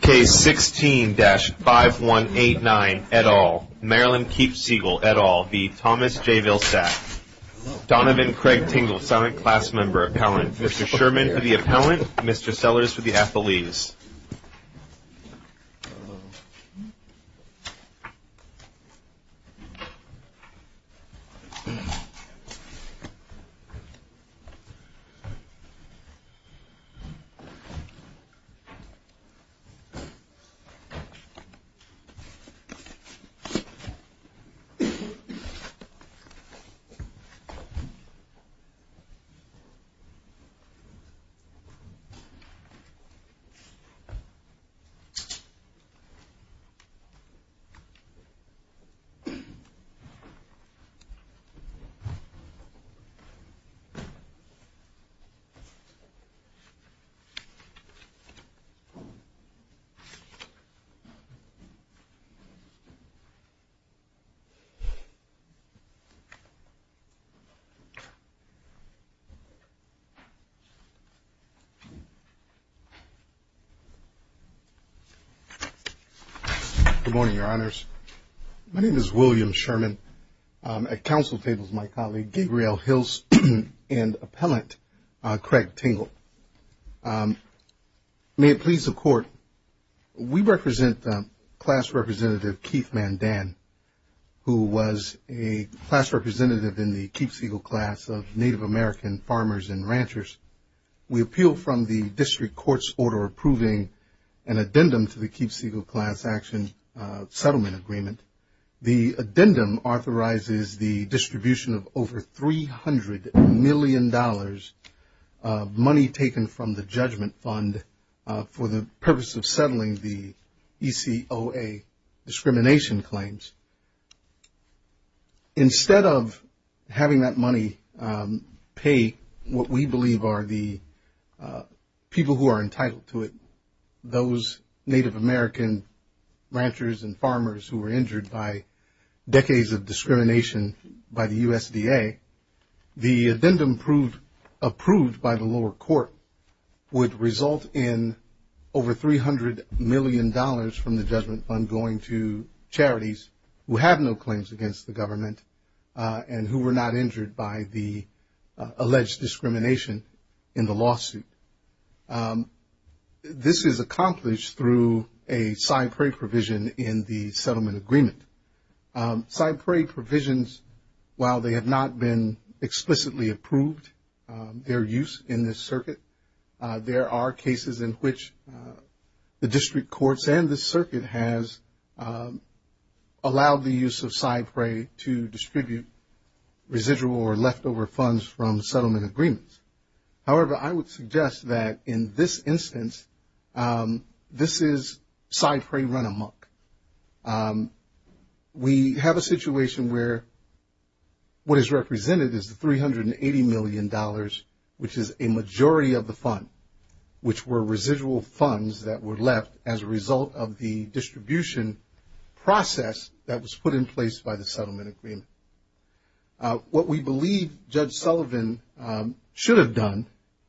Case 16-5189, et al. Marilyn Keepseagle, et al. v. Thomas J. Vilsack. Donovan Craig Tingle, silent class member, appellant. Mr. Sherman for the appellant, Mr. Sellers for the athletes. Thomas J. Vilsack, silent class member, appellant. Good morning, your honors. My name is William Sherman. At council table is my colleague, Gabrielle Hills, and appellant Craig Tingle. May it please the court, we represent class representative Keith Mandan, who was a class representative in the Keeps Eagle class of Native American farmers and ranchers. We appeal from the district court's order approving an addendum to the Keeps Eagle class action settlement agreement. The addendum authorizes the distribution of over $300 million money taken from the judgment fund for the purpose of settling the ECOA discrimination claims. Instead of having that money pay what we believe are the people who are entitled to it, those Native American ranchers and farmers who were injured by decades of discrimination by the USDA, the addendum approved by the lower court would result in over $300 million from the judgment fund going to charities who have no claims against the government and who were not injured by the alleged discrimination in the lawsuit. This is accomplished through a side prey provision in the settlement agreement. Side prey provisions, while they have not been explicitly approved, their use in this circuit, there are cases in which the district courts and the circuit has allowed the use of side prey to distribute residual or leftover funds from settlement agreements. However, I would suggest that in this instance, this is side prey run amok. We have a situation where what is represented is the $380 million, which is a majority of the fund, which were residual funds that were left as a result of the distribution process that was put in place by the settlement agreement. What we believe Judge Sullivan should have done,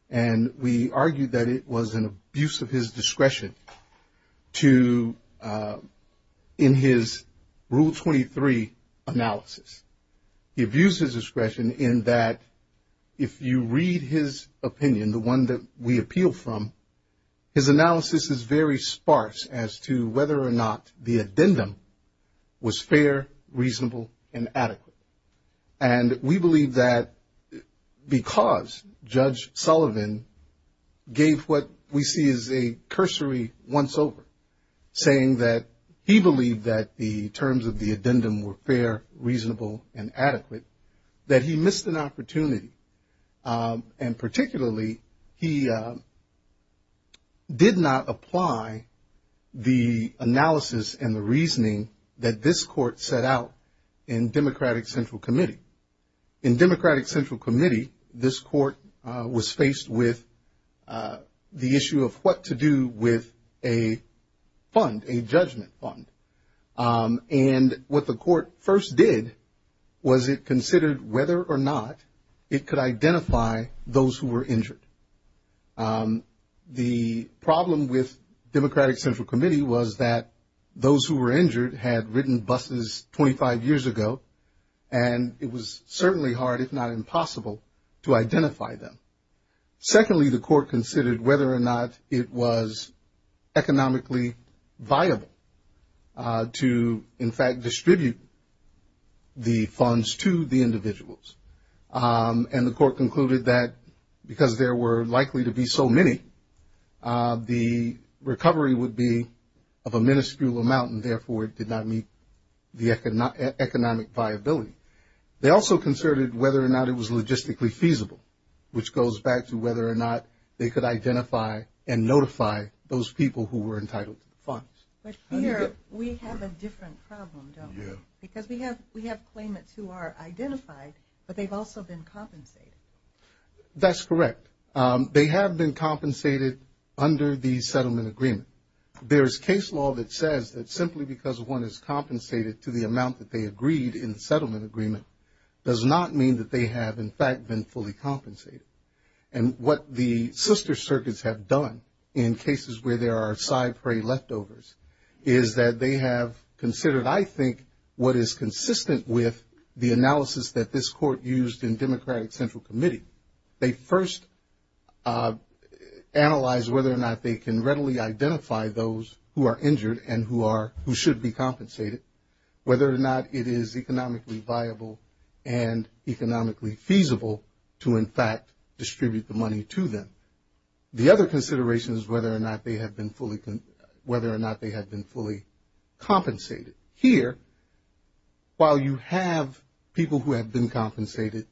and we argue that it was an abuse of his discretion to, in his Rule 23 analysis, he abused his discretion in that if you read his opinion, the one that we appeal from, his analysis is very sparse as to whether or not the addendum was fair, reasonable, and adequate. And we believe that because Judge Sullivan gave what we see as a cursory once-over, saying that he believed that the terms of the addendum were fair, reasonable, and adequate, that he missed an opportunity. And particularly, he did not apply the analysis and the reasoning that this court set out in Democratic Central Committee. In Democratic Central Committee, this court was faced with the issue of what to do with a fund, a judgment fund. And what the court first did was it considered whether or not it could identify those who were injured. The problem with Democratic Central Committee was that those who were injured had ridden buses 25 years ago, and it was certainly hard, if not impossible, to identify them. Secondly, the court considered whether or not it was economically viable to, in fact, distribute the funds to the individuals. And the court concluded that because there were likely to be so many, the recovery would be of a minuscule amount, and therefore it did not meet the economic viability. They also considered whether or not it was logistically feasible, which goes back to whether or not they could identify and notify those people who were entitled to the funds. But here, we have a different problem, don't we? Yeah. Because we have claimants who are identified, but they've also been compensated. That's correct. They have been compensated under the settlement agreement. There's case law that says that simply because one is compensated to the amount that they agreed in the settlement agreement does not mean that they have, in fact, been fully compensated. And what the sister circuits have done in cases where there are side prey leftovers is that they have considered, I think, what is consistent with the analysis that this court used in Democratic Central Committee. They first analyzed whether or not they can readily identify those who are injured and who should be compensated, whether or not it is economically viable and economically feasible to, in fact, distribute the money to them. The other consideration is whether or not they have been fully compensated. Here, while you have people who have been compensated,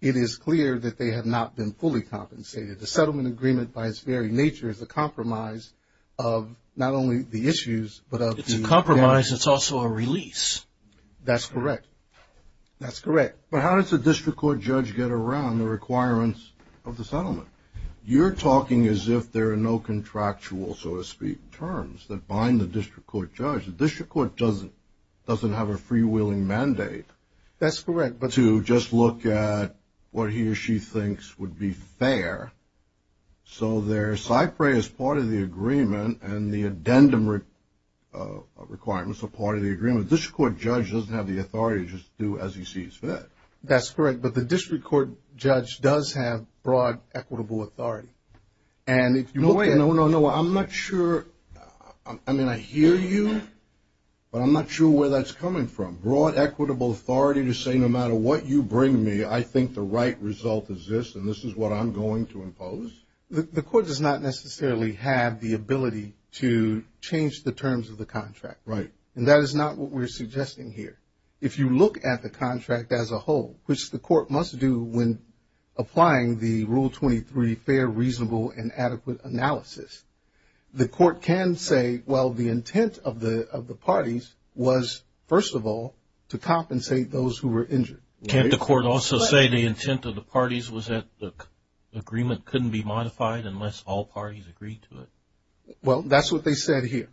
it is clear that they have not been fully compensated. The settlement agreement, by its very nature, is a compromise of not only the issues, but of the- It's a compromise. It's also a release. That's correct. That's correct. But how does a district court judge get around the requirements of the settlement? You're talking as if there are no contractual, so to speak, terms that bind the district court judge. The district court doesn't have a freewheeling mandate to just look at what he or she thinks would be fair. So their side prey is part of the agreement, and the addendum requirements are part of the agreement. The district court judge doesn't have the authority to just do as he sees fit. That's correct, but the district court judge does have broad, equitable authority. And if you look at- No, no, no, I'm not sure. I mean, I hear you, but I'm not sure where that's coming from. Broad, equitable authority to say, no matter what you bring me, I think the right result is this, and this is what I'm going to impose? The court does not necessarily have the ability to change the terms of the contract. Right. And that is not what we're suggesting here. If you look at the contract as a whole, which the court must do when applying the Rule 23, fair, reasonable, and adequate analysis, the court can say, well, the intent of the parties was, first of all, to compensate those who were injured. Can't the court also say the intent of the parties was that the agreement couldn't be modified unless all parties agreed to it? Well, that's what they said here.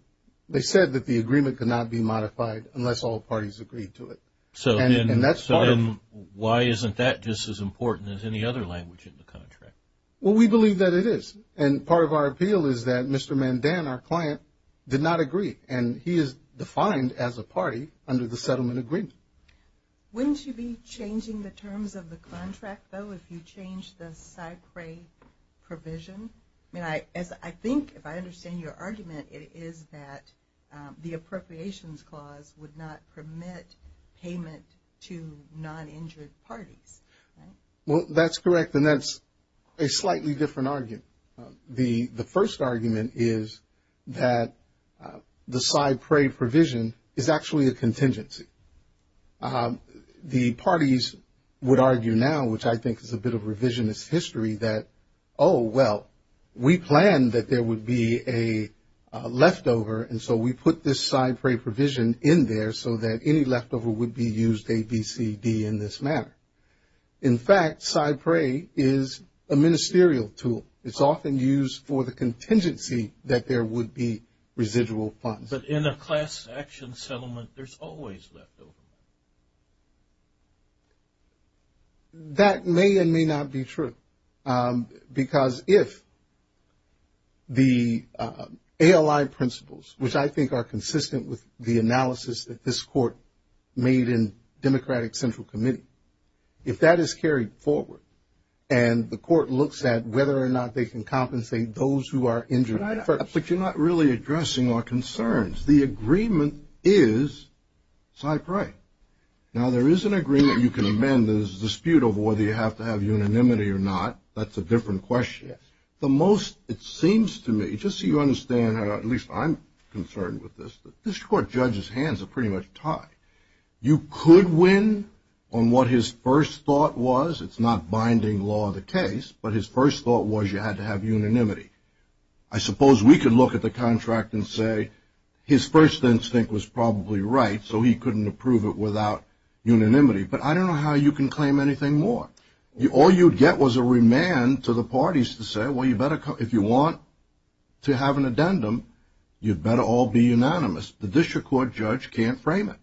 They said that the agreement could not be modified unless all parties agreed to it. And that's part of- So then why isn't that just as important as any other language in the contract? Well, we believe that it is. And part of our appeal is that Mr. Mandan, our client, did not agree, and he is defined as a party under the settlement agreement. Wouldn't you be changing the terms of the contract, though, if you change the PSY CREA provision? I mean, I think, if I understand your argument, it is that the appropriations clause would not permit payment to non-injured parties, right? Well, that's correct, and that's a slightly different argument. The first argument is that the PSY CREA provision is actually a contingency. The parties would argue now, which I think is a bit of revisionist history, that, oh, well, we planned that there would be a leftover, and so we put this PSY CREA provision in there so that any leftover would be used ABCD in this manner. In fact, PSY CREA is a ministerial tool. It's often used for the contingency that there would be residual funds. But in a class action settlement, there's always leftover. That may and may not be true. Because if the ALI principles, which I think are consistent with the analysis that this court made in Democratic Central Committee, if that is carried forward and the court looks at whether or not they can compensate those who are injured first. But you're not really addressing our concerns. The agreement is PSY CREA. Now, there is an agreement you can amend. There's a dispute over whether you have to have unanimity or not. That's a different question. It seems to me, just so you understand, at least I'm concerned with this, that this court judge's hands are pretty much tied. You could win on what his first thought was. It's not binding law of the case, but his first thought was you had to have unanimity. I suppose we could look at the contract and say his first instinct was probably right, so he couldn't approve it without unanimity. But I don't know how you can claim anything more. All you'd get was a remand to the parties to say, well, if you want to have an addendum, you'd better all be unanimous. But this court judge can't frame it.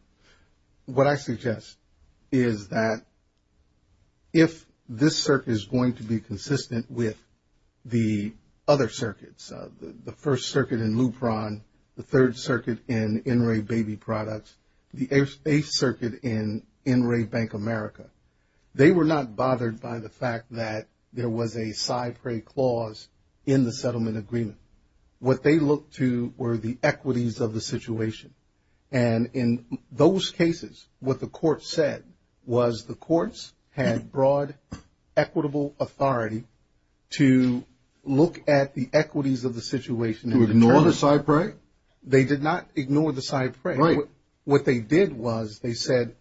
What I suggest is that if this circuit is going to be consistent with the other circuits, the first circuit in Lupron, the third circuit in NRA Baby Products, the eighth circuit in NRA Bank America, they were not bothered by the fact that there was a PSY CREA clause in the settlement agreement. What they looked to were the equities of the situation. And in those cases, what the court said was the courts had broad, equitable authority to look at the equities of the situation. To ignore the PSY CREA? They did not ignore the PSY CREA. What they did was they said,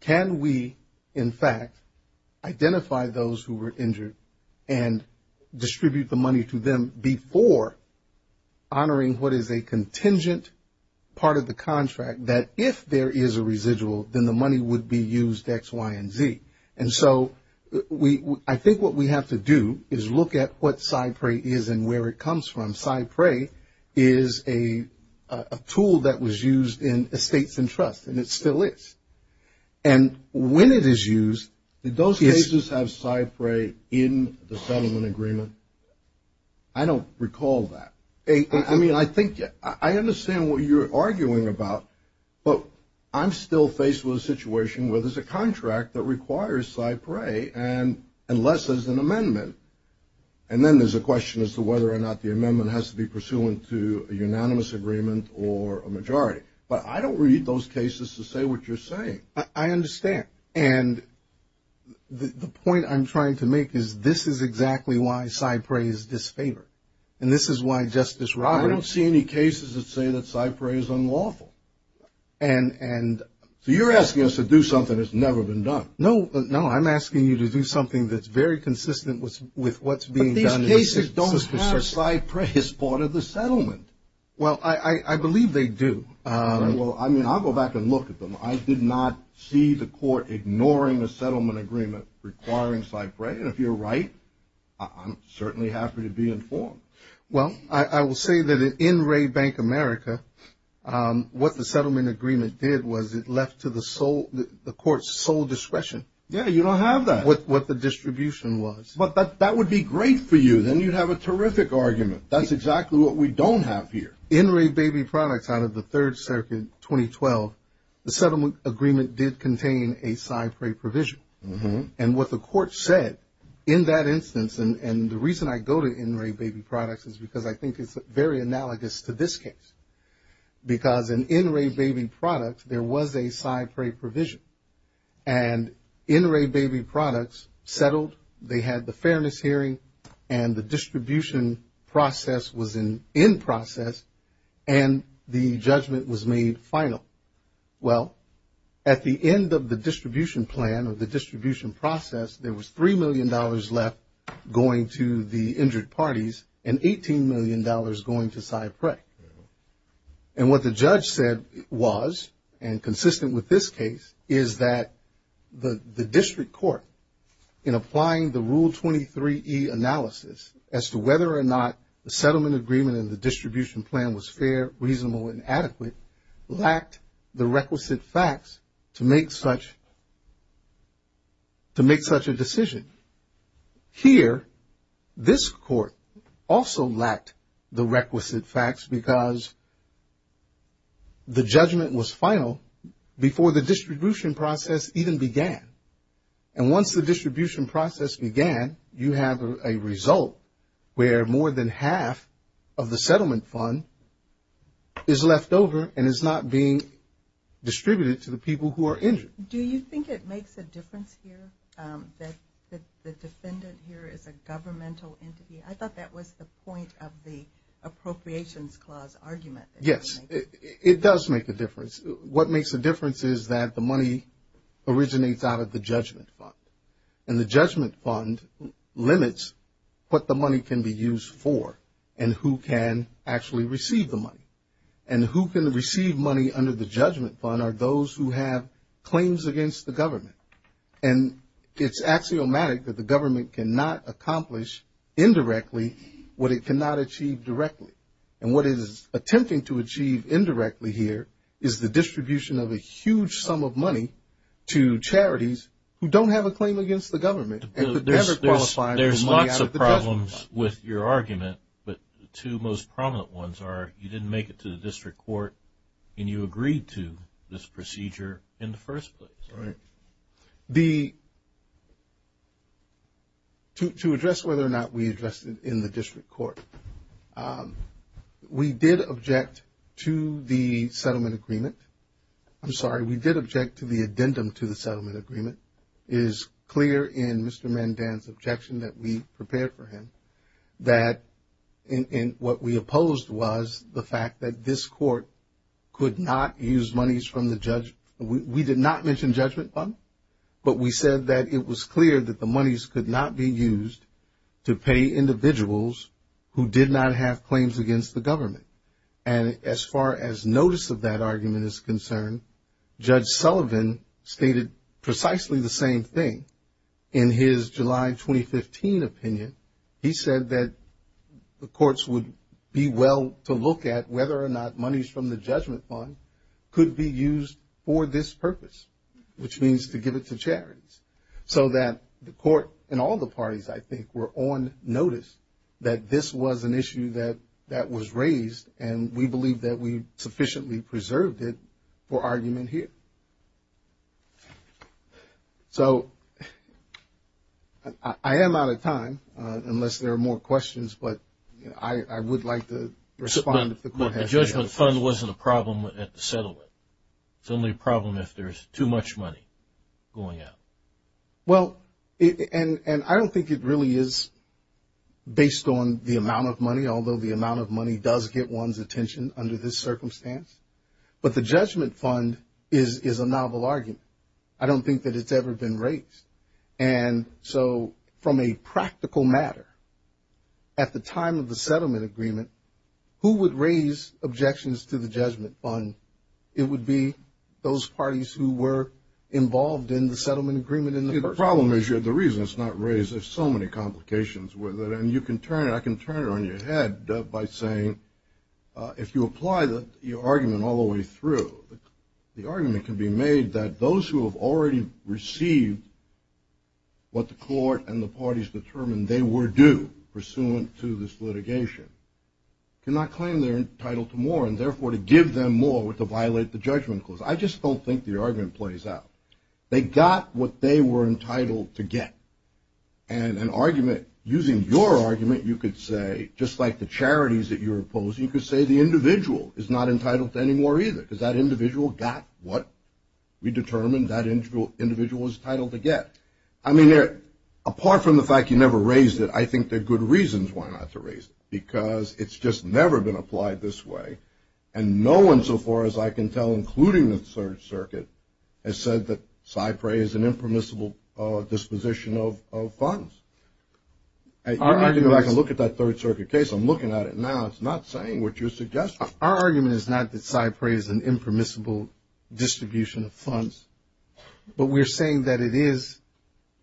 can we, in fact, identify those who were injured and distribute the money to them before honoring what is a contingent part of the contract, that if there is a residual, then the money would be used X, Y, and Z. And so I think what we have to do is look at what PSY CREA is and where it comes from. PSY CREA is a tool that was used in Estates and Trusts, and it still is. And when it is used, did those cases have PSY CREA in the settlement agreement? I don't recall that. I mean, I think, I understand what you're arguing about, but I'm still faced with a situation where there's a contract that requires PSY CREA, unless there's an amendment, and then there's a question as to whether or not the amendment has to be pursuant to a unanimous agreement or a majority. But I don't read those cases to say what you're saying. I understand. And the point I'm trying to make is this is exactly why PSY CREA is disfavored. And this is why Justice Roberts – I don't see any cases that say that PSY CREA is unlawful. And – So you're asking us to do something that's never been done. No. No, I'm asking you to do something that's very consistent with what's being done – But these cases don't have PSY CREA as part of the settlement. Well, I believe they do. Well, I mean, I'll go back and look at them. I did not see the court ignoring the settlement agreement requiring PSY CREA. And if you're right, I'm certainly happy to be informed. Well, I will say that in Ray Bank America, what the settlement agreement did was it left to the court's sole discretion. Yeah, you don't have that. What the distribution was. But that would be great for you. Then you'd have a terrific argument. That's exactly what we don't have here. In Ray Baby Products out of the Third Circuit 2012, the settlement agreement did contain a PSY CREA provision. And what the court said in that instance – and the reason I go to In Ray Baby Products is because I think it's very analogous to this case. Because in In Ray Baby Products, there was a PSY CREA provision. And In Ray Baby Products settled. They had the fairness hearing. And the distribution process was in process. And the judgment was made final. Well, at the end of the distribution plan or the distribution process, there was $3 million left going to the injured parties and $18 million going to PSY CREA. And what the judge said was, and consistent with this case, is that the district court, in applying the Rule 23E analysis as to whether or not the settlement agreement in the distribution plan was fair, reasonable, and adequate, lacked the requisite facts to make such a decision. Here, this court also lacked the requisite facts because the judgment was final before the distribution process even began. And once the distribution process began, you have a result where more than half of the settlement fund is left over and is not being distributed to the people who are injured. Do you think it makes a difference here that the defendant here is a governmental entity? I thought that was the point of the Appropriations Clause argument. Yes, it does make a difference. What makes a difference is that the money originates out of the judgment fund. And the judgment fund limits what the money can be used for and who can actually receive the money. And who can receive money under the judgment fund are those who have claims against the government. And it's axiomatic that the government cannot accomplish indirectly what it cannot achieve directly. And what it is attempting to achieve indirectly here is the distribution of a huge sum of money to charities who don't have a claim against the government. There's lots of problems with your argument, but the two most prominent ones are you didn't make it to the district court and you agreed to this procedure in the first place. Right. To address whether or not we addressed it in the district court, we did object to the settlement agreement. I'm sorry, we did object to the addendum to the settlement agreement. It is clear in Mr. Mandan's objection that we prepared for him that what we opposed was the fact that this court could not use monies from the judgment. We did not mention judgment fund, but we said that it was clear that the monies could not be used to pay individuals who did not have claims against the government. And as far as notice of that argument is concerned, Judge Sullivan stated precisely the same thing. In his July 2015 opinion, he said that the courts would be well to look at whether or not monies from the judgment fund could be used for this purpose, which means to give it to charities. So that the court and all the parties I think were on notice that this was an issue that was raised and we believe that we sufficiently preserved it for argument here. So I am out of time unless there are more questions, but I would like to respond if the court has any. But the judgment fund wasn't a problem at the settlement. It's only a problem if there's too much money going out. Well, and I don't think it really is based on the amount of money, although the amount of money does get one's attention under this circumstance. But the judgment fund is a novel argument. I don't think that it's ever been raised. And so from a practical matter, at the time of the settlement agreement, who would raise objections to the judgment fund? It would be those parties who were involved in the settlement agreement in the first place. The problem is the reason it's not raised. There's so many complications with it. And you can turn it, I can turn it on your head by saying if you apply the argument all the way through, the argument can be made that those who have already received what the court and the parties determined they were due pursuant to this litigation cannot claim they're entitled to more, and therefore to give them more would violate the judgment clause. I just don't think the argument plays out. They got what they were entitled to get. And an argument, using your argument, you could say, just like the charities that you're opposing, you could say the individual is not entitled to any more either, because that individual got what we determined that individual was entitled to get. I mean, apart from the fact you never raised it, I think there are good reasons why not to raise it, because it's just never been applied this way, and no one so far as I can tell, including the Third Circuit, has said that SIPRE is an impermissible disposition of funds. I can look at that Third Circuit case. I'm looking at it now. It's not saying what you're suggesting. Our argument is not that SIPRE is an impermissible distribution of funds, but we're saying that it is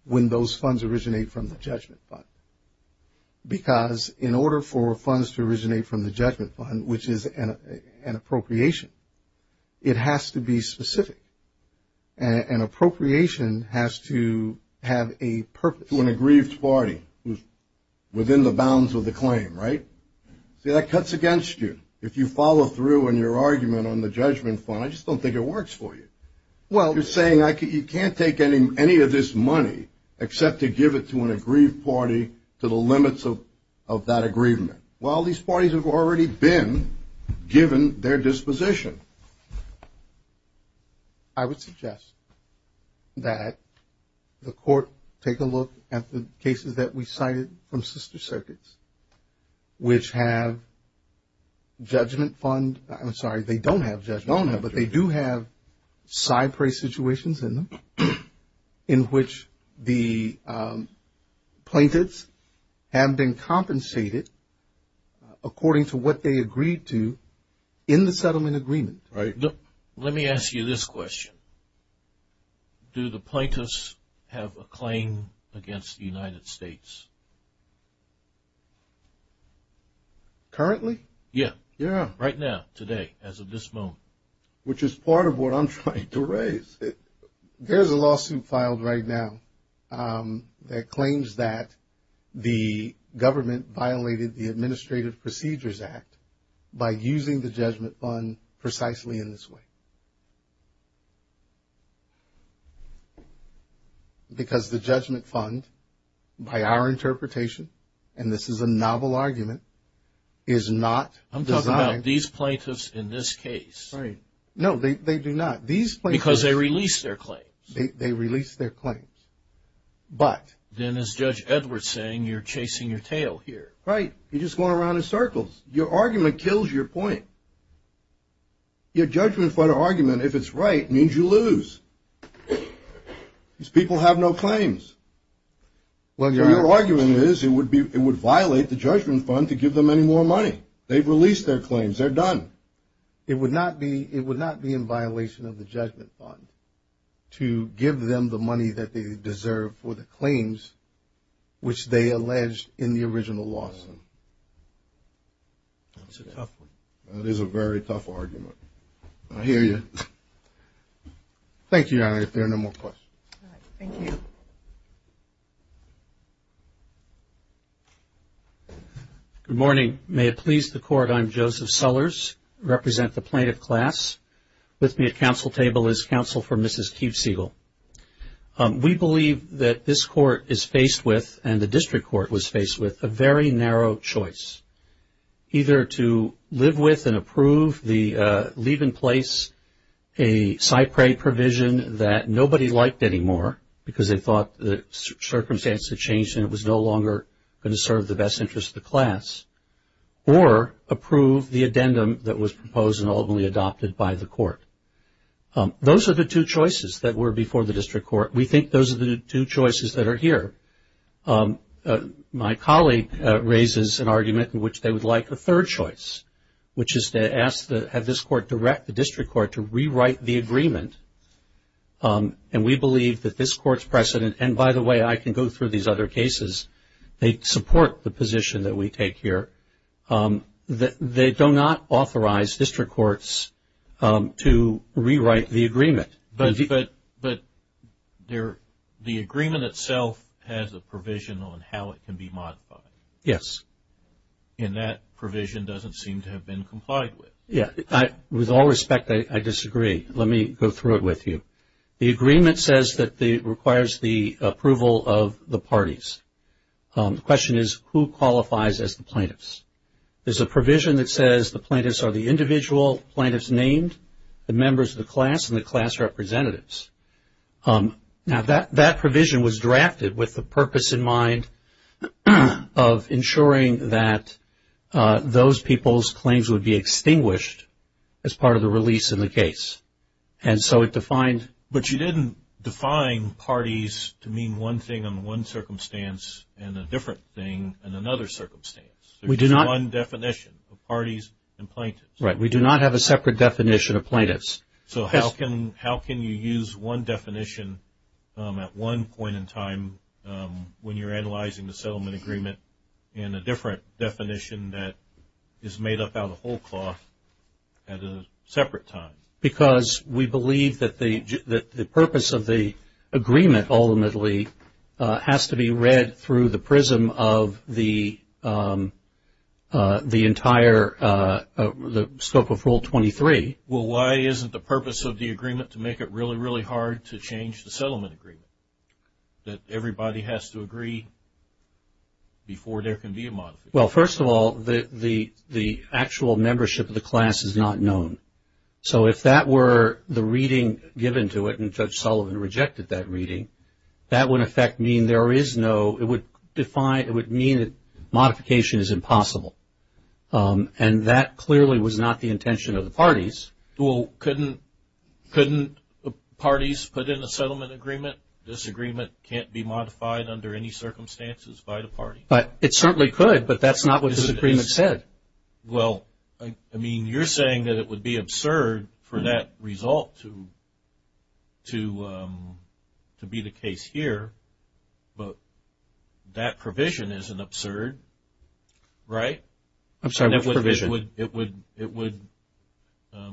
when those funds originate from the judgment fund, because in order for funds to originate from the judgment fund, which is an appropriation, it has to be specific. An appropriation has to have a purpose. To an aggrieved party who's within the bounds of the claim, right? See, that cuts against you. If you follow through on your argument on the judgment fund, I just don't think it works for you. You're saying you can't take any of this money except to give it to an aggrieved party to the limits of that aggrievement. Well, these parties have already been given their disposition. I would suggest that the court take a look at the cases that we cited from sister circuits, which have judgment fund. I'm sorry, they don't have judgment fund, but they do have SIPRE situations in them, in which the plaintiffs have been compensated according to what they agreed to in the settlement agreement. Let me ask you this question. Do the plaintiffs have a claim against the United States? Currently? Yeah. Right now, today, as of this moment. Which is part of what I'm trying to raise. There's a lawsuit filed right now that claims that the government violated the Administrative Procedures Act by using the judgment fund precisely in this way. Because the judgment fund, by our interpretation, and this is a novel argument, is not designed. I'm talking about these plaintiffs in this case. Right. No, they do not. These plaintiffs. Because they released their claims. They released their claims. But. Then as Judge Edwards is saying, you're chasing your tail here. Right. You're just going around in circles. Your argument kills your point. Your judgment fund argument, if it's right, means you lose. These people have no claims. Your argument is it would violate the judgment fund to give them any more money. They've released their claims. They're done. It would not be in violation of the judgment fund to give them the money that they deserve for the claims which they alleged in the original lawsuit. That's a tough one. That is a very tough argument. I hear you. Thank you, Your Honor. If there are no more questions. All right. Thank you. Good morning. May it please the Court, I'm Joseph Sullers. I represent the plaintiff class. With me at counsel table is counsel for Mrs. Keefe Siegel. We believe that this court is faced with, and the district court was faced with, a very narrow choice. Either to live with and approve the leave in place, a SIPRE provision that nobody liked anymore because they thought the circumstance had changed and it was no longer going to serve the best interest of the class, or approve the addendum that was proposed and ultimately adopted by the court. Those are the two choices that were before the district court. We think those are the two choices that are here. My colleague raises an argument in which they would like a third choice, which is to ask to have this court direct the district court to rewrite the agreement. And we believe that this court's precedent, and by the way, I can go through these other cases. They support the position that we take here. They do not authorize district courts to rewrite the agreement. But the agreement itself has a provision on how it can be modified. Yes. And that provision doesn't seem to have been complied with. With all respect, I disagree. Let me go through it with you. The agreement says that it requires the approval of the parties. The question is, who qualifies as the plaintiffs? There's a provision that says the plaintiffs are the individual plaintiffs named, the members of the class, and the class representatives. Now, that provision was drafted with the purpose in mind of ensuring that those people's claims would be extinguished as part of the release in the case. But you didn't define parties to mean one thing in one circumstance and a different thing in another circumstance. There's one definition of parties and plaintiffs. Right. We do not have a separate definition of plaintiffs. So how can you use one definition at one point in time when you're analyzing the settlement agreement and a different definition that is made up out of whole cloth at a separate time? Because we believe that the purpose of the agreement, ultimately, has to be read through the prism of the entire scope of Rule 23. Well, why isn't the purpose of the agreement to make it really, really hard to change the settlement agreement, that everybody has to agree before there can be a modification? Well, first of all, the actual membership of the class is not known. So if that were the reading given to it, and Judge Sullivan rejected that reading, that would in effect mean there is no, it would define, it would mean that modification is impossible. And that clearly was not the intention of the parties. Well, couldn't parties put in a settlement agreement, this agreement can't be modified under any circumstances by the party? It certainly could, but that's not what this agreement said. Well, I mean, you're saying that it would be absurd for that result to be the case here, but that provision isn't absurd, right? I'm sorry, what provision? It would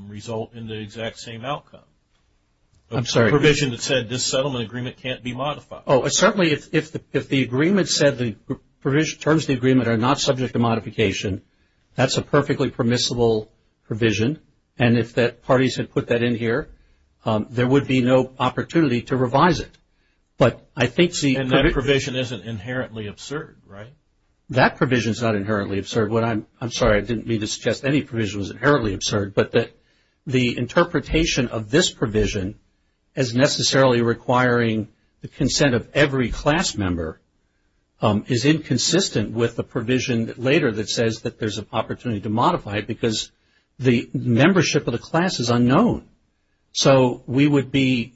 result in the exact same outcome. I'm sorry. The provision that said this settlement agreement can't be modified. Oh, certainly if the agreement said the provision, terms of the agreement are not subject to modification, that's a perfectly permissible provision. And if the parties had put that in here, there would be no opportunity to revise it. And that provision isn't inherently absurd, right? That provision is not inherently absurd. I'm sorry, I didn't mean to suggest any provision was inherently absurd, but that the interpretation of this provision as necessarily requiring the consent of every class member is inconsistent with the provision later that says that there's an opportunity to modify it, because the membership of the class is unknown. So we would be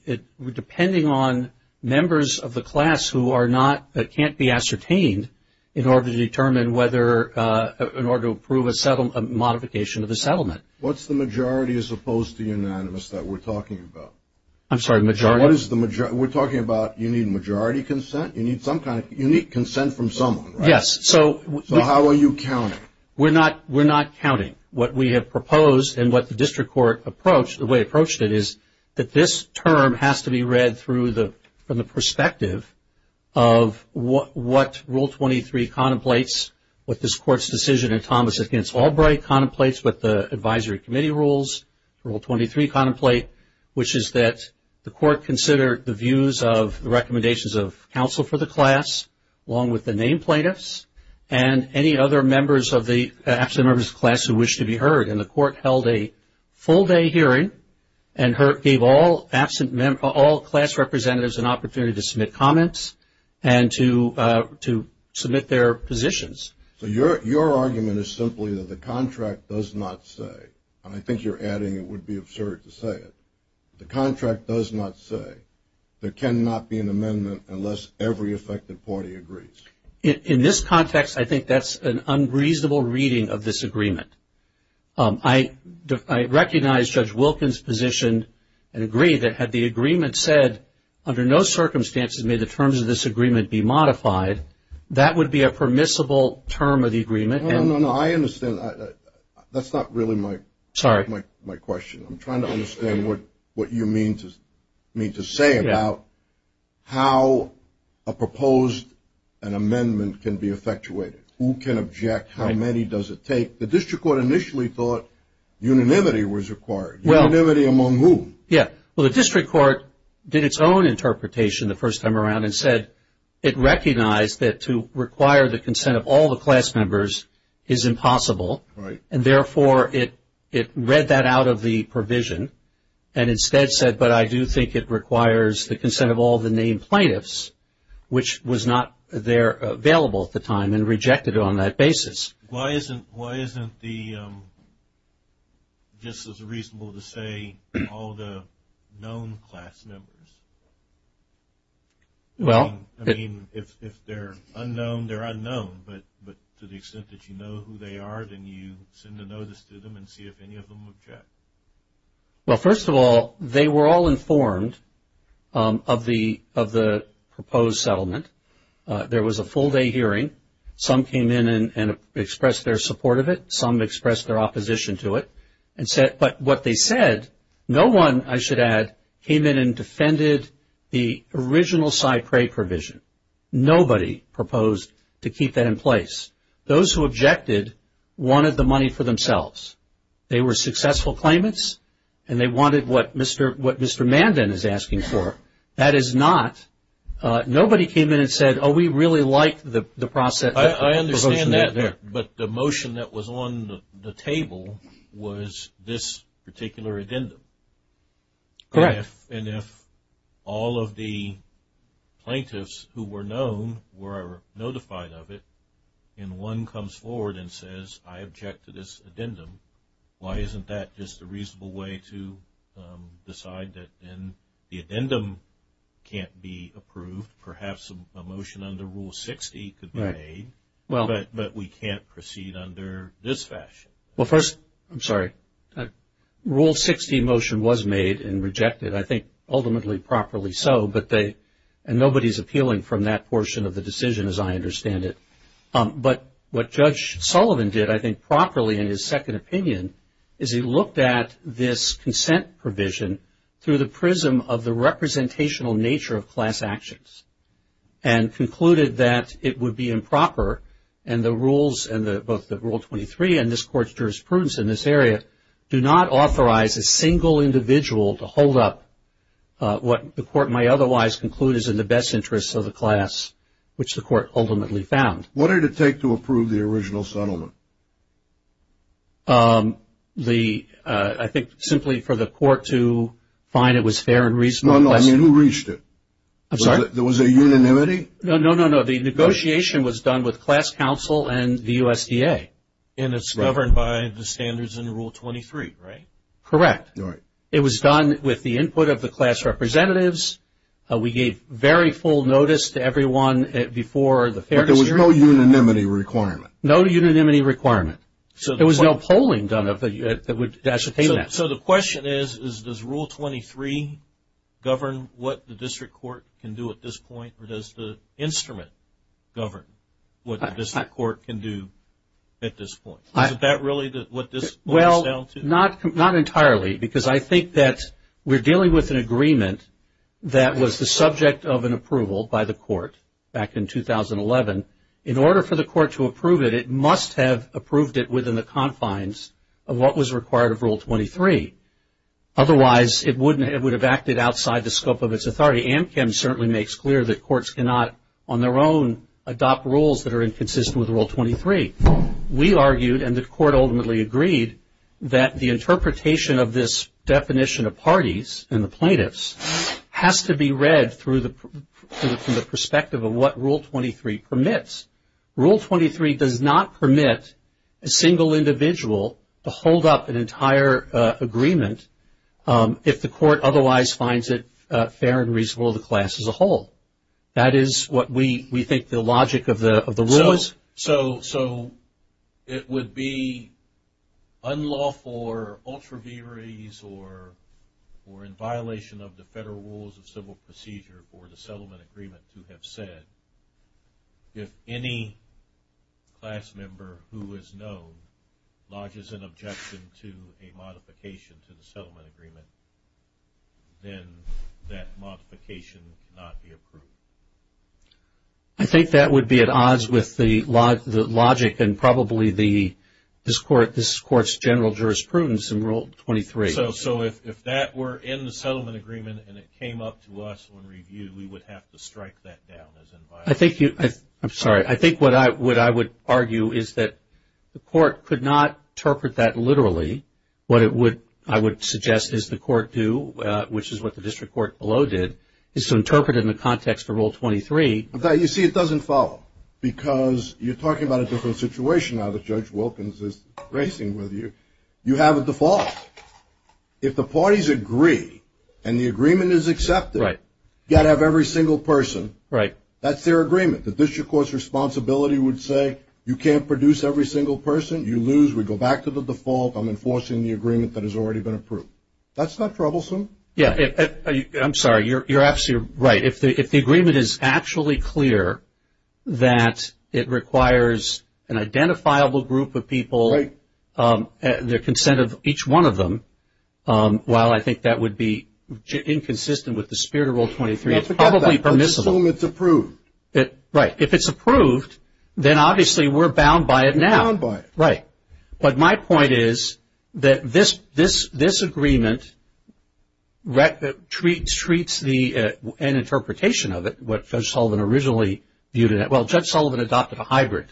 depending on members of the class who are not, that can't be ascertained in order to determine whether, in order to approve a modification of the settlement. What's the majority as opposed to unanimous that we're talking about? I'm sorry, majority? We're talking about you need majority consent? You need consent from someone, right? Yes. So how are you counting? We're not counting. What we have proposed and what the district court approached, the way it approached it is that this term has to be read from the perspective of what Rule 23 contemplates, what this court's decision in Thomas against Albright contemplates, what the advisory committee rules, Rule 23 contemplate, which is that the court consider the views of the recommendations of counsel for the class, along with the named plaintiffs, and any other members of the, actually members of the class who wish to be heard. And the court held a full day hearing and gave all absent, all class representatives an opportunity to submit comments and to submit their positions. So your argument is simply that the contract does not say, and I think you're adding it would be absurd to say it, the contract does not say there cannot be an amendment unless every effective party agrees. In this context, I think that's an unreasonable reading of this agreement. I recognize Judge Wilkins' position and agree that had the agreement said, under no circumstances may the terms of this agreement be modified, that would be a permissible term of the agreement. No, no, no. I understand. That's not really my question. I'm trying to understand what you mean to say about how a proposed amendment can be effectuated. Who can object? How many does it take? The district court initially thought unanimity was required. Unanimity among whom? Yeah. Well, the district court did its own interpretation the first time around and said it recognized that to require the consent of all the class members is impossible. Right. And, therefore, it read that out of the provision and instead said, but I do think it requires the consent of all the named plaintiffs, which was not there available at the time and rejected on that basis. Why isn't the, just as reasonable to say, all the known class members? Well. I mean, if they're unknown, they're unknown, but to the extent that you know who they are, then you send a notice to them and see if any of them object. Well, first of all, they were all informed of the proposed settlement. There was a full day hearing. Some came in and expressed their support of it. Some expressed their opposition to it. But what they said, no one, I should add, came in and defended the original CyPray provision. Nobody proposed to keep that in place. Those who objected wanted the money for themselves. They were successful claimants and they wanted what Mr. Mandin is asking for. That is not, nobody came in and said, oh, we really like the process. I understand that, but the motion that was on the table was this particular addendum. Correct. And if all of the plaintiffs who were known were notified of it, and one comes forward and says, I object to this addendum, why isn't that just a reasonable way to decide that then the addendum can't be approved? Perhaps a motion under Rule 60 could be made, but we can't proceed under this fashion. Well, first, I'm sorry. Rule 60 motion was made and rejected, I think ultimately properly so, and nobody is appealing from that portion of the decision as I understand it. But what Judge Sullivan did, I think properly in his second opinion, is he looked at this consent provision through the prism of the representational nature of class actions and concluded that it would be improper, and both the Rule 23 and this Court's jurisprudence in this area do not authorize a single individual to hold up what the Court may otherwise conclude is in the best interests of the class, which the Court ultimately found. What did it take to approve the original settlement? I think simply for the Court to find it was fair and reasonable. No, no, I mean, who reached it? I'm sorry? There was a unanimity? No, no, no, no. The negotiation was done with class counsel and the USDA. And it's governed by the standards in Rule 23, right? Correct. All right. It was done with the input of the class representatives. We gave very full notice to everyone before the fair decision. But there was no unanimity requirement? No unanimity requirement. There was no polling done that would ascertain that. So the question is, does Rule 23 govern what the District Court can do at this point, or does the instrument govern what the District Court can do at this point? Is that really what this point is down to? Well, not entirely, because I think that we're dealing with an agreement that was the subject of an approval by the Court back in 2011. In order for the Court to approve it, it must have approved it within the confines of what was required of Rule 23. Otherwise, it would have acted outside the scope of its authority. AMCM certainly makes clear that courts cannot, on their own, adopt rules that are inconsistent with Rule 23. We argued, and the Court ultimately agreed, that the interpretation of this definition of parties and the plaintiffs has to be read from the perspective of what Rule 23 permits. Rule 23 does not permit a single individual to hold up an entire agreement if the Court otherwise finds it fair and reasonable to the class as a whole. That is what we think the logic of the rule is. So it would be unlawful or ultraviaries or in violation of the Federal Rules of Civil Procedure or the settlement agreement to have said, if any class member who is known lodges an objection to a modification to the settlement agreement, then that modification cannot be approved. I think that would be at odds with the logic and probably this Court's general jurisprudence in Rule 23. So if that were in the settlement agreement and it came up to us when reviewed, we would have to strike that down as in violation. I'm sorry. I think what I would argue is that the Court could not interpret that literally. What I would suggest is the Court do, which is what the District Court below did, is to interpret it in the context of Rule 23. You see, it doesn't follow, because you're talking about a different situation now that Judge Wilkins is racing with you. You have a default. If the parties agree and the agreement is accepted, you've got to have every single person. That's their agreement. The District Court's responsibility would say, you can't produce every single person. You lose. We go back to the default. I'm enforcing the agreement that has already been approved. That's not troublesome. Yeah. I'm sorry. You're absolutely right. If the agreement is actually clear that it requires an identifiable group of people, the consent of each one of them, while I think that would be inconsistent with the spirit of Rule 23, it's probably permissible. Assume it's approved. Right. If it's approved, then obviously we're bound by it now. You're bound by it. Right. But my point is that this agreement treats an interpretation of it, what Judge Sullivan originally viewed it. Well, Judge Sullivan adopted a hybrid,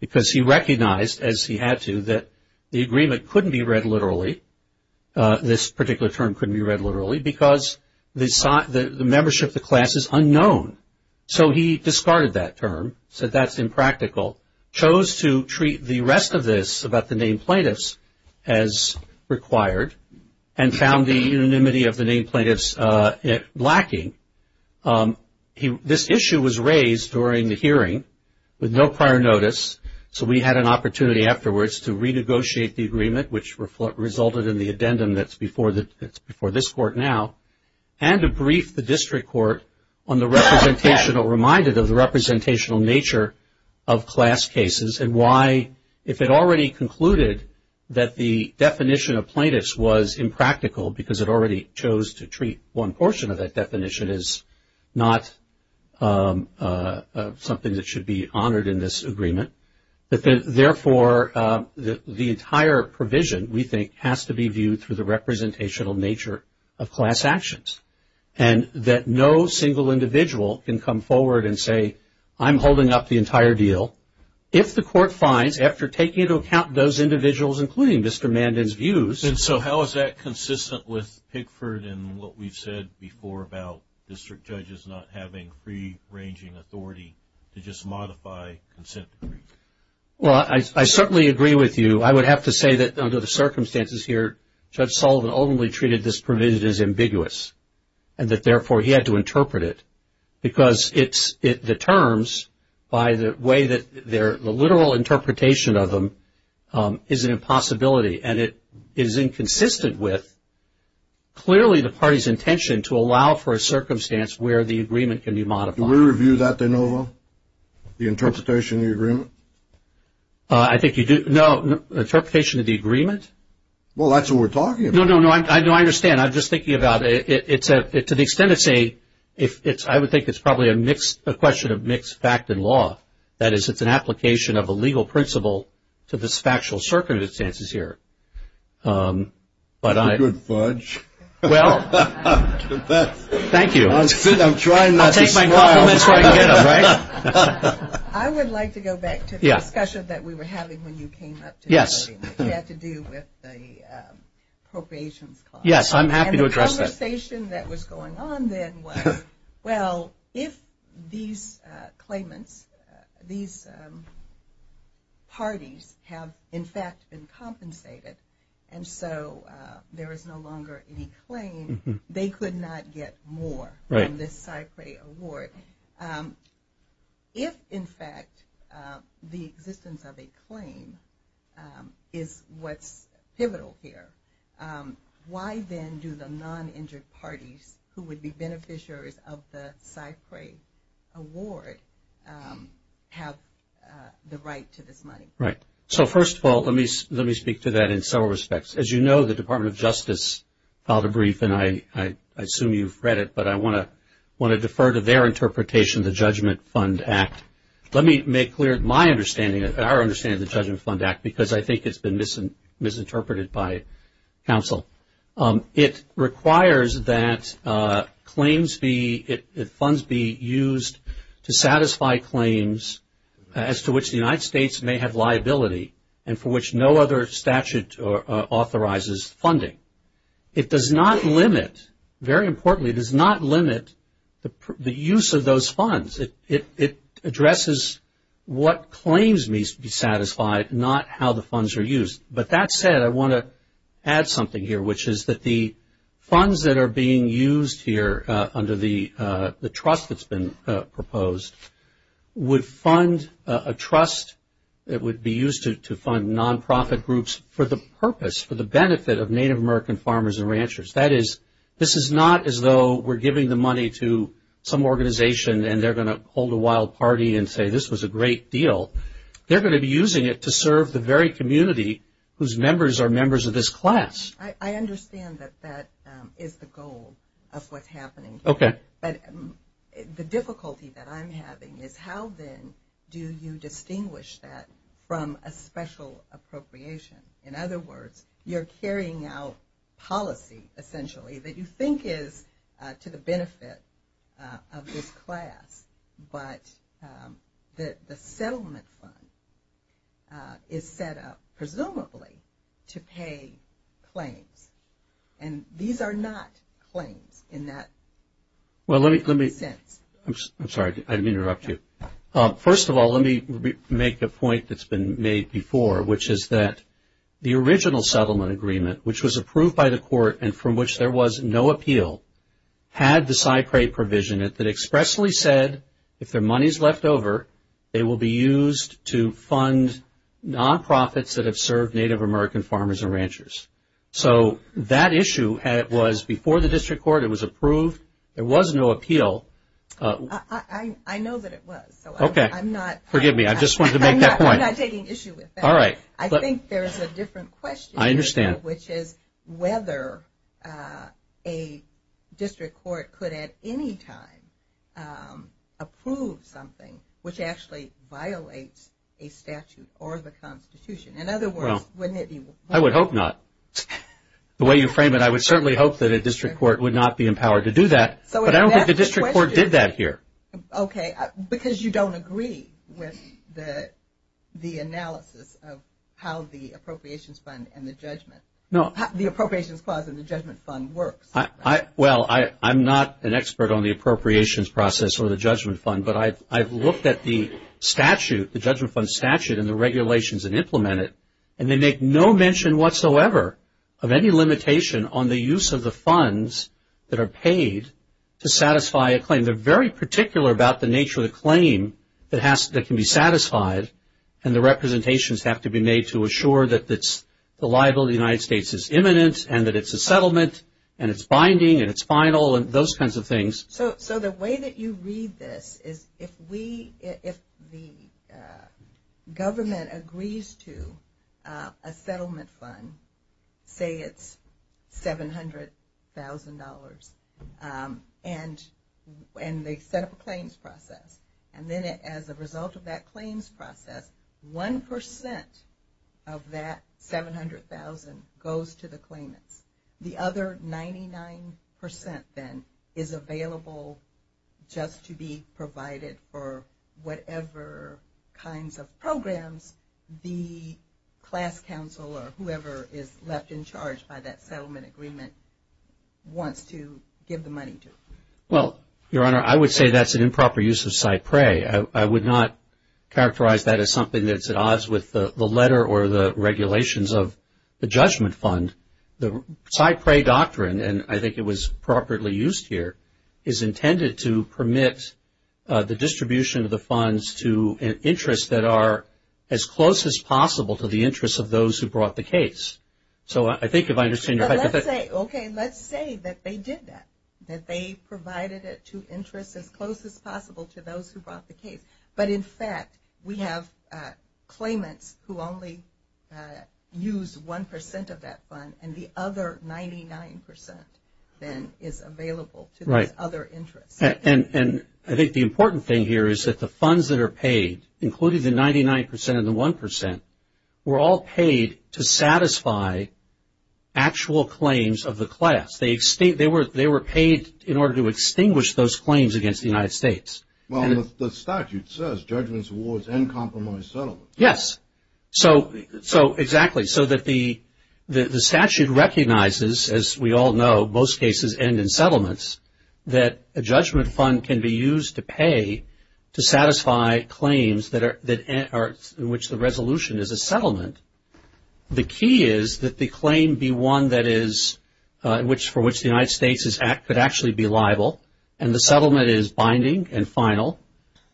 because he recognized, as he had to, that the agreement couldn't be read literally, this particular term couldn't be read literally, because the membership of the class is unknown. So he discarded that term, said that's impractical. Chose to treat the rest of this about the named plaintiffs as required and found the unanimity of the named plaintiffs lacking. This issue was raised during the hearing with no prior notice, so we had an opportunity afterwards to renegotiate the agreement, which resulted in the addendum that's before this Court now, and to brief the District Court on the representational, reminded of the representational nature of class cases, and why if it already concluded that the definition of plaintiffs was impractical, because it already chose to treat one portion of that definition as not something that should be honored in this agreement, that therefore the entire provision, we think, has to be viewed through the representational nature of class actions, and that no single individual can come forward and say, I'm holding up the entire deal, if the Court finds, after taking into account those individuals, including Mr. Mandin's views. And so how is that consistent with Pickford and what we've said before about district judges not having free-ranging authority to just modify consent decrees? Well, I certainly agree with you. I would have to say that under the circumstances here, Judge Sullivan only treated this provision as ambiguous, and that therefore he had to interpret it, because the terms, by the way that the literal interpretation of them is an impossibility, and it is inconsistent with clearly the party's intention to allow for a circumstance where the agreement can be modified. Do we review that, De Novo, the interpretation of the agreement? I think you do. No. Interpretation of the agreement? Well, that's what we're talking about. No, no, no. I understand. I'm just thinking about it. To the extent it's a, I would think it's probably a question of mixed fact and law. That is, it's an application of a legal principle to this factual circumstances here. You're a good fudge. Well, thank you. I'll take my compliments where I can get them, right? I would like to go back to the discussion that we were having when you came up today. Yes. It had to do with the appropriations clause. Yes, I'm happy to address that. And the conversation that was going on then was, well, if these claimants, these parties have, in fact, been compensated, and so there is no longer any claim, they could not get more from this CyPRAE award. If, in fact, the existence of a claim is what's pivotal here, why then do the non-injured parties who would be beneficiaries of the CyPRAE award have the right to this money? Right. So, first of all, let me speak to that in several respects. As you know, the Department of Justice filed a brief, and I assume you've read it, but I want to defer to their interpretation of the Judgment Fund Act. Let me make clear my understanding and our understanding of the Judgment Fund Act, because I think it's been misinterpreted by counsel. It requires that claims be used to satisfy claims as to which the United States may have liability and for which no other statute authorizes funding. It does not limit, very importantly, it does not limit the use of those funds. It addresses what claims needs to be satisfied, not how the funds are used. But that said, I want to add something here, which is that the funds that are being used here under the trust that's been proposed would fund a trust that would be used to fund nonprofit groups for the purpose, for the benefit of Native American farmers and ranchers. That is, this is not as though we're giving the money to some organization and they're going to hold a wild party and say this was a great deal. They're going to be using it to serve the very community whose members are members of this class. I understand that that is the goal of what's happening here. Okay. But the difficulty that I'm having is how, then, do you distinguish that from a special appropriation? In other words, you're carrying out policy, essentially, that you think is to the benefit of this class, but the settlement fund is set up, presumably, to pay claims. And these are not claims in that sense. I'm sorry. I didn't interrupt you. First of all, let me make a point that's been made before, which is that the original settlement agreement, which was approved by the court and from which there was no appeal, had the SIPRE provision that expressly said, if their money is left over, they will be used to fund nonprofits that have served Native American farmers and ranchers. So that issue was before the district court. It was approved. There was no appeal. I know that it was. Okay. Forgive me. I just wanted to make that point. I'm not taking issue with that. All right. I think there's a different question. I understand. Which is whether a district court could at any time approve something which actually violates a statute or the Constitution. In other words, wouldn't it be wrong? I would hope not. The way you frame it, I would certainly hope that a district court would not be empowered to do that. But I don't think the district court did that here. Okay. Because you don't agree with the analysis of how the Appropriations Fund and the Judgment Fund works. Well, I'm not an expert on the Appropriations Process or the Judgment Fund, but I've looked at the statute, the Judgment Fund statute and the regulations that implement it, and they make no mention whatsoever of any limitation on the use of the funds that are paid to satisfy a claim. They're very particular about the nature of the claim that can be satisfied and the representations have to be made to assure that the liability of the United States is imminent and that it's a settlement and it's binding and it's final and those kinds of things. So the way that you read this is if the government agrees to a settlement fund, say it's $700,000, and they set up a claims process, and then as a result of that claims process, 1% of that $700,000 goes to the claimants. The other 99% then is available just to be provided for whatever kinds of programs the class counsel or whoever is left in charge by that settlement agreement wants to give the money to. Well, Your Honor, I would say that's an improper use of cypre. I would not characterize that as something that's at odds with the letter or the regulations of the judgment fund. The cypre doctrine, and I think it was properly used here, is intended to permit the distribution of the funds to interests that are as close as possible to the interests of those who brought the case. So I think if I understand your point. Okay, let's say that they did that, that they provided it to interests as close as possible to those who brought the case. But in fact, we have claimants who only use 1% of that fund, and the other 99% then is available to those other interests. And I think the important thing here is that the funds that are paid, including the 99% and the 1%, were all paid to satisfy actual claims of the class. They were paid in order to extinguish those claims against the United States. Well, the statute says judgments, awards, and compromised settlements. Yes. So exactly. So that the statute recognizes, as we all know, most cases end in settlements, that a judgment fund can be used to pay to satisfy claims in which the resolution is a settlement. The key is that the claim be one for which the United States could actually be liable, and the settlement is binding and final.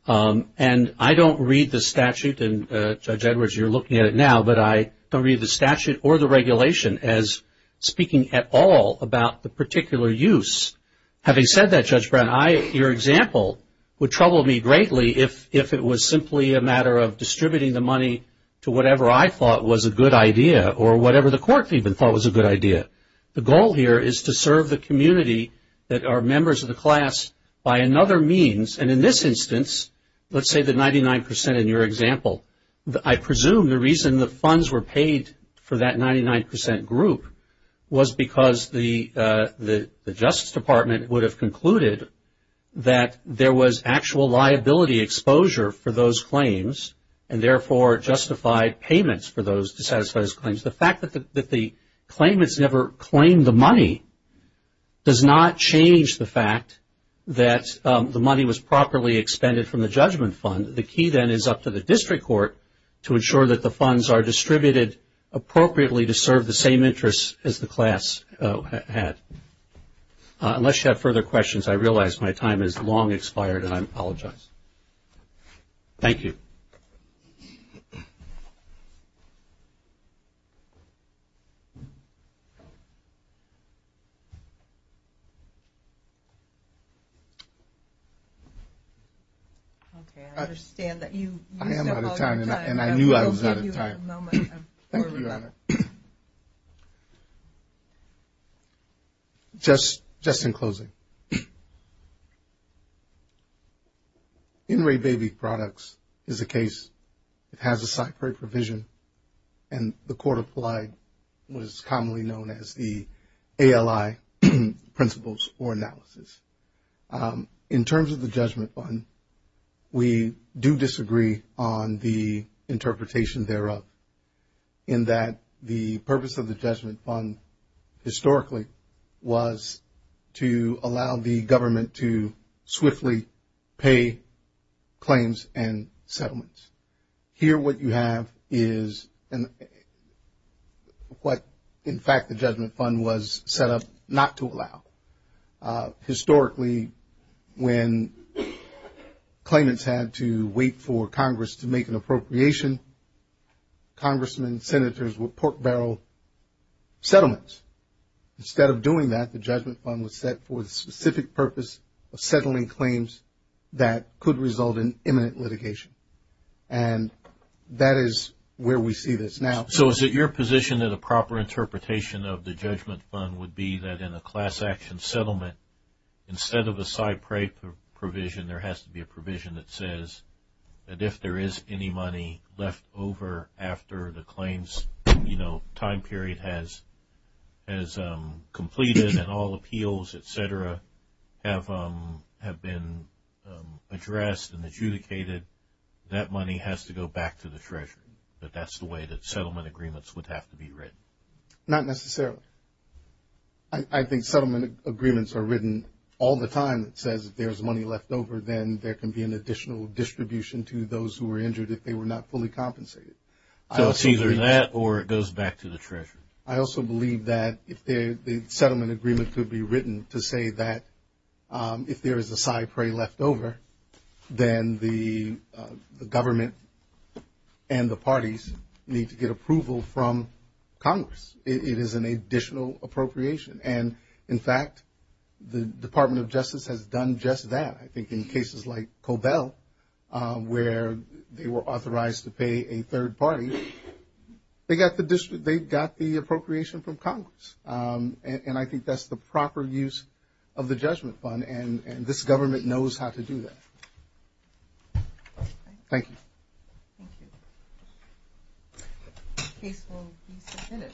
And I don't read the statute, and Judge Edwards, you're looking at it now, but I don't read the statute or the regulation as speaking at all about the particular use. Having said that, Judge Brown, your example would trouble me greatly if it was simply a matter of distributing the money to whatever I thought was a good idea or whatever the court even thought was a good idea. The goal here is to serve the community that are members of the class by another means. And in this instance, let's say the 99% in your example, I presume the reason the funds were paid for that 99% group was because the Justice Department would have concluded that there was actual liability exposure for those claims and therefore justified payments for those to satisfy those claims. The fact that the claimants never claimed the money does not change the fact that the money was properly expended from the judgment fund. The key then is up to the district court to ensure that the funds are distributed appropriately to serve the same interests as the class had. Unless you have further questions, I realize my time has long expired and I apologize. Thank you. Okay, I understand that you used up all your time. I am out of time and I knew I was out of time. Thank you, Your Honor. Just in closing, in-rate baby products is a case that has a site-prey provision and the court applied what is commonly known as the ALI principles or analysis. In terms of the judgment fund, we do disagree on the interpretation thereof in that the purpose of the judgment fund historically was to allow the government to swiftly pay claims and settlements. Here what you have is what in fact the judgment fund was set up not to allow. Historically, when claimants had to wait for Congress to make an appropriation, congressmen, senators would pork barrel settlements. Instead of doing that, the judgment fund was set for the specific purpose of settling claims that could result in imminent litigation. And that is where we see this now. So is it your position that a proper interpretation of the judgment fund would be that in a class action settlement, instead of a site-prey provision, there has to be a provision that says that if there is any money left over after the claims time period has completed and all appeals, et cetera, have been addressed and adjudicated, that money has to go back to the treasurer? That that's the way that settlement agreements would have to be written? Not necessarily. I think settlement agreements are written all the time. It says if there's money left over, then there can be an additional distribution to those who were injured if they were not fully compensated. So it's either that or it goes back to the treasurer. I also believe that the settlement agreement could be written to say that if there is a site-prey left over, then the government and the parties need to get approval from Congress. It is an additional appropriation. And, in fact, the Department of Justice has done just that. I think in cases like Cobell, where they were authorized to pay a third party, they got the appropriation from Congress. And I think that's the proper use of the judgment fund, and this government knows how to do that. Thank you. Thank you. The case will be submitted.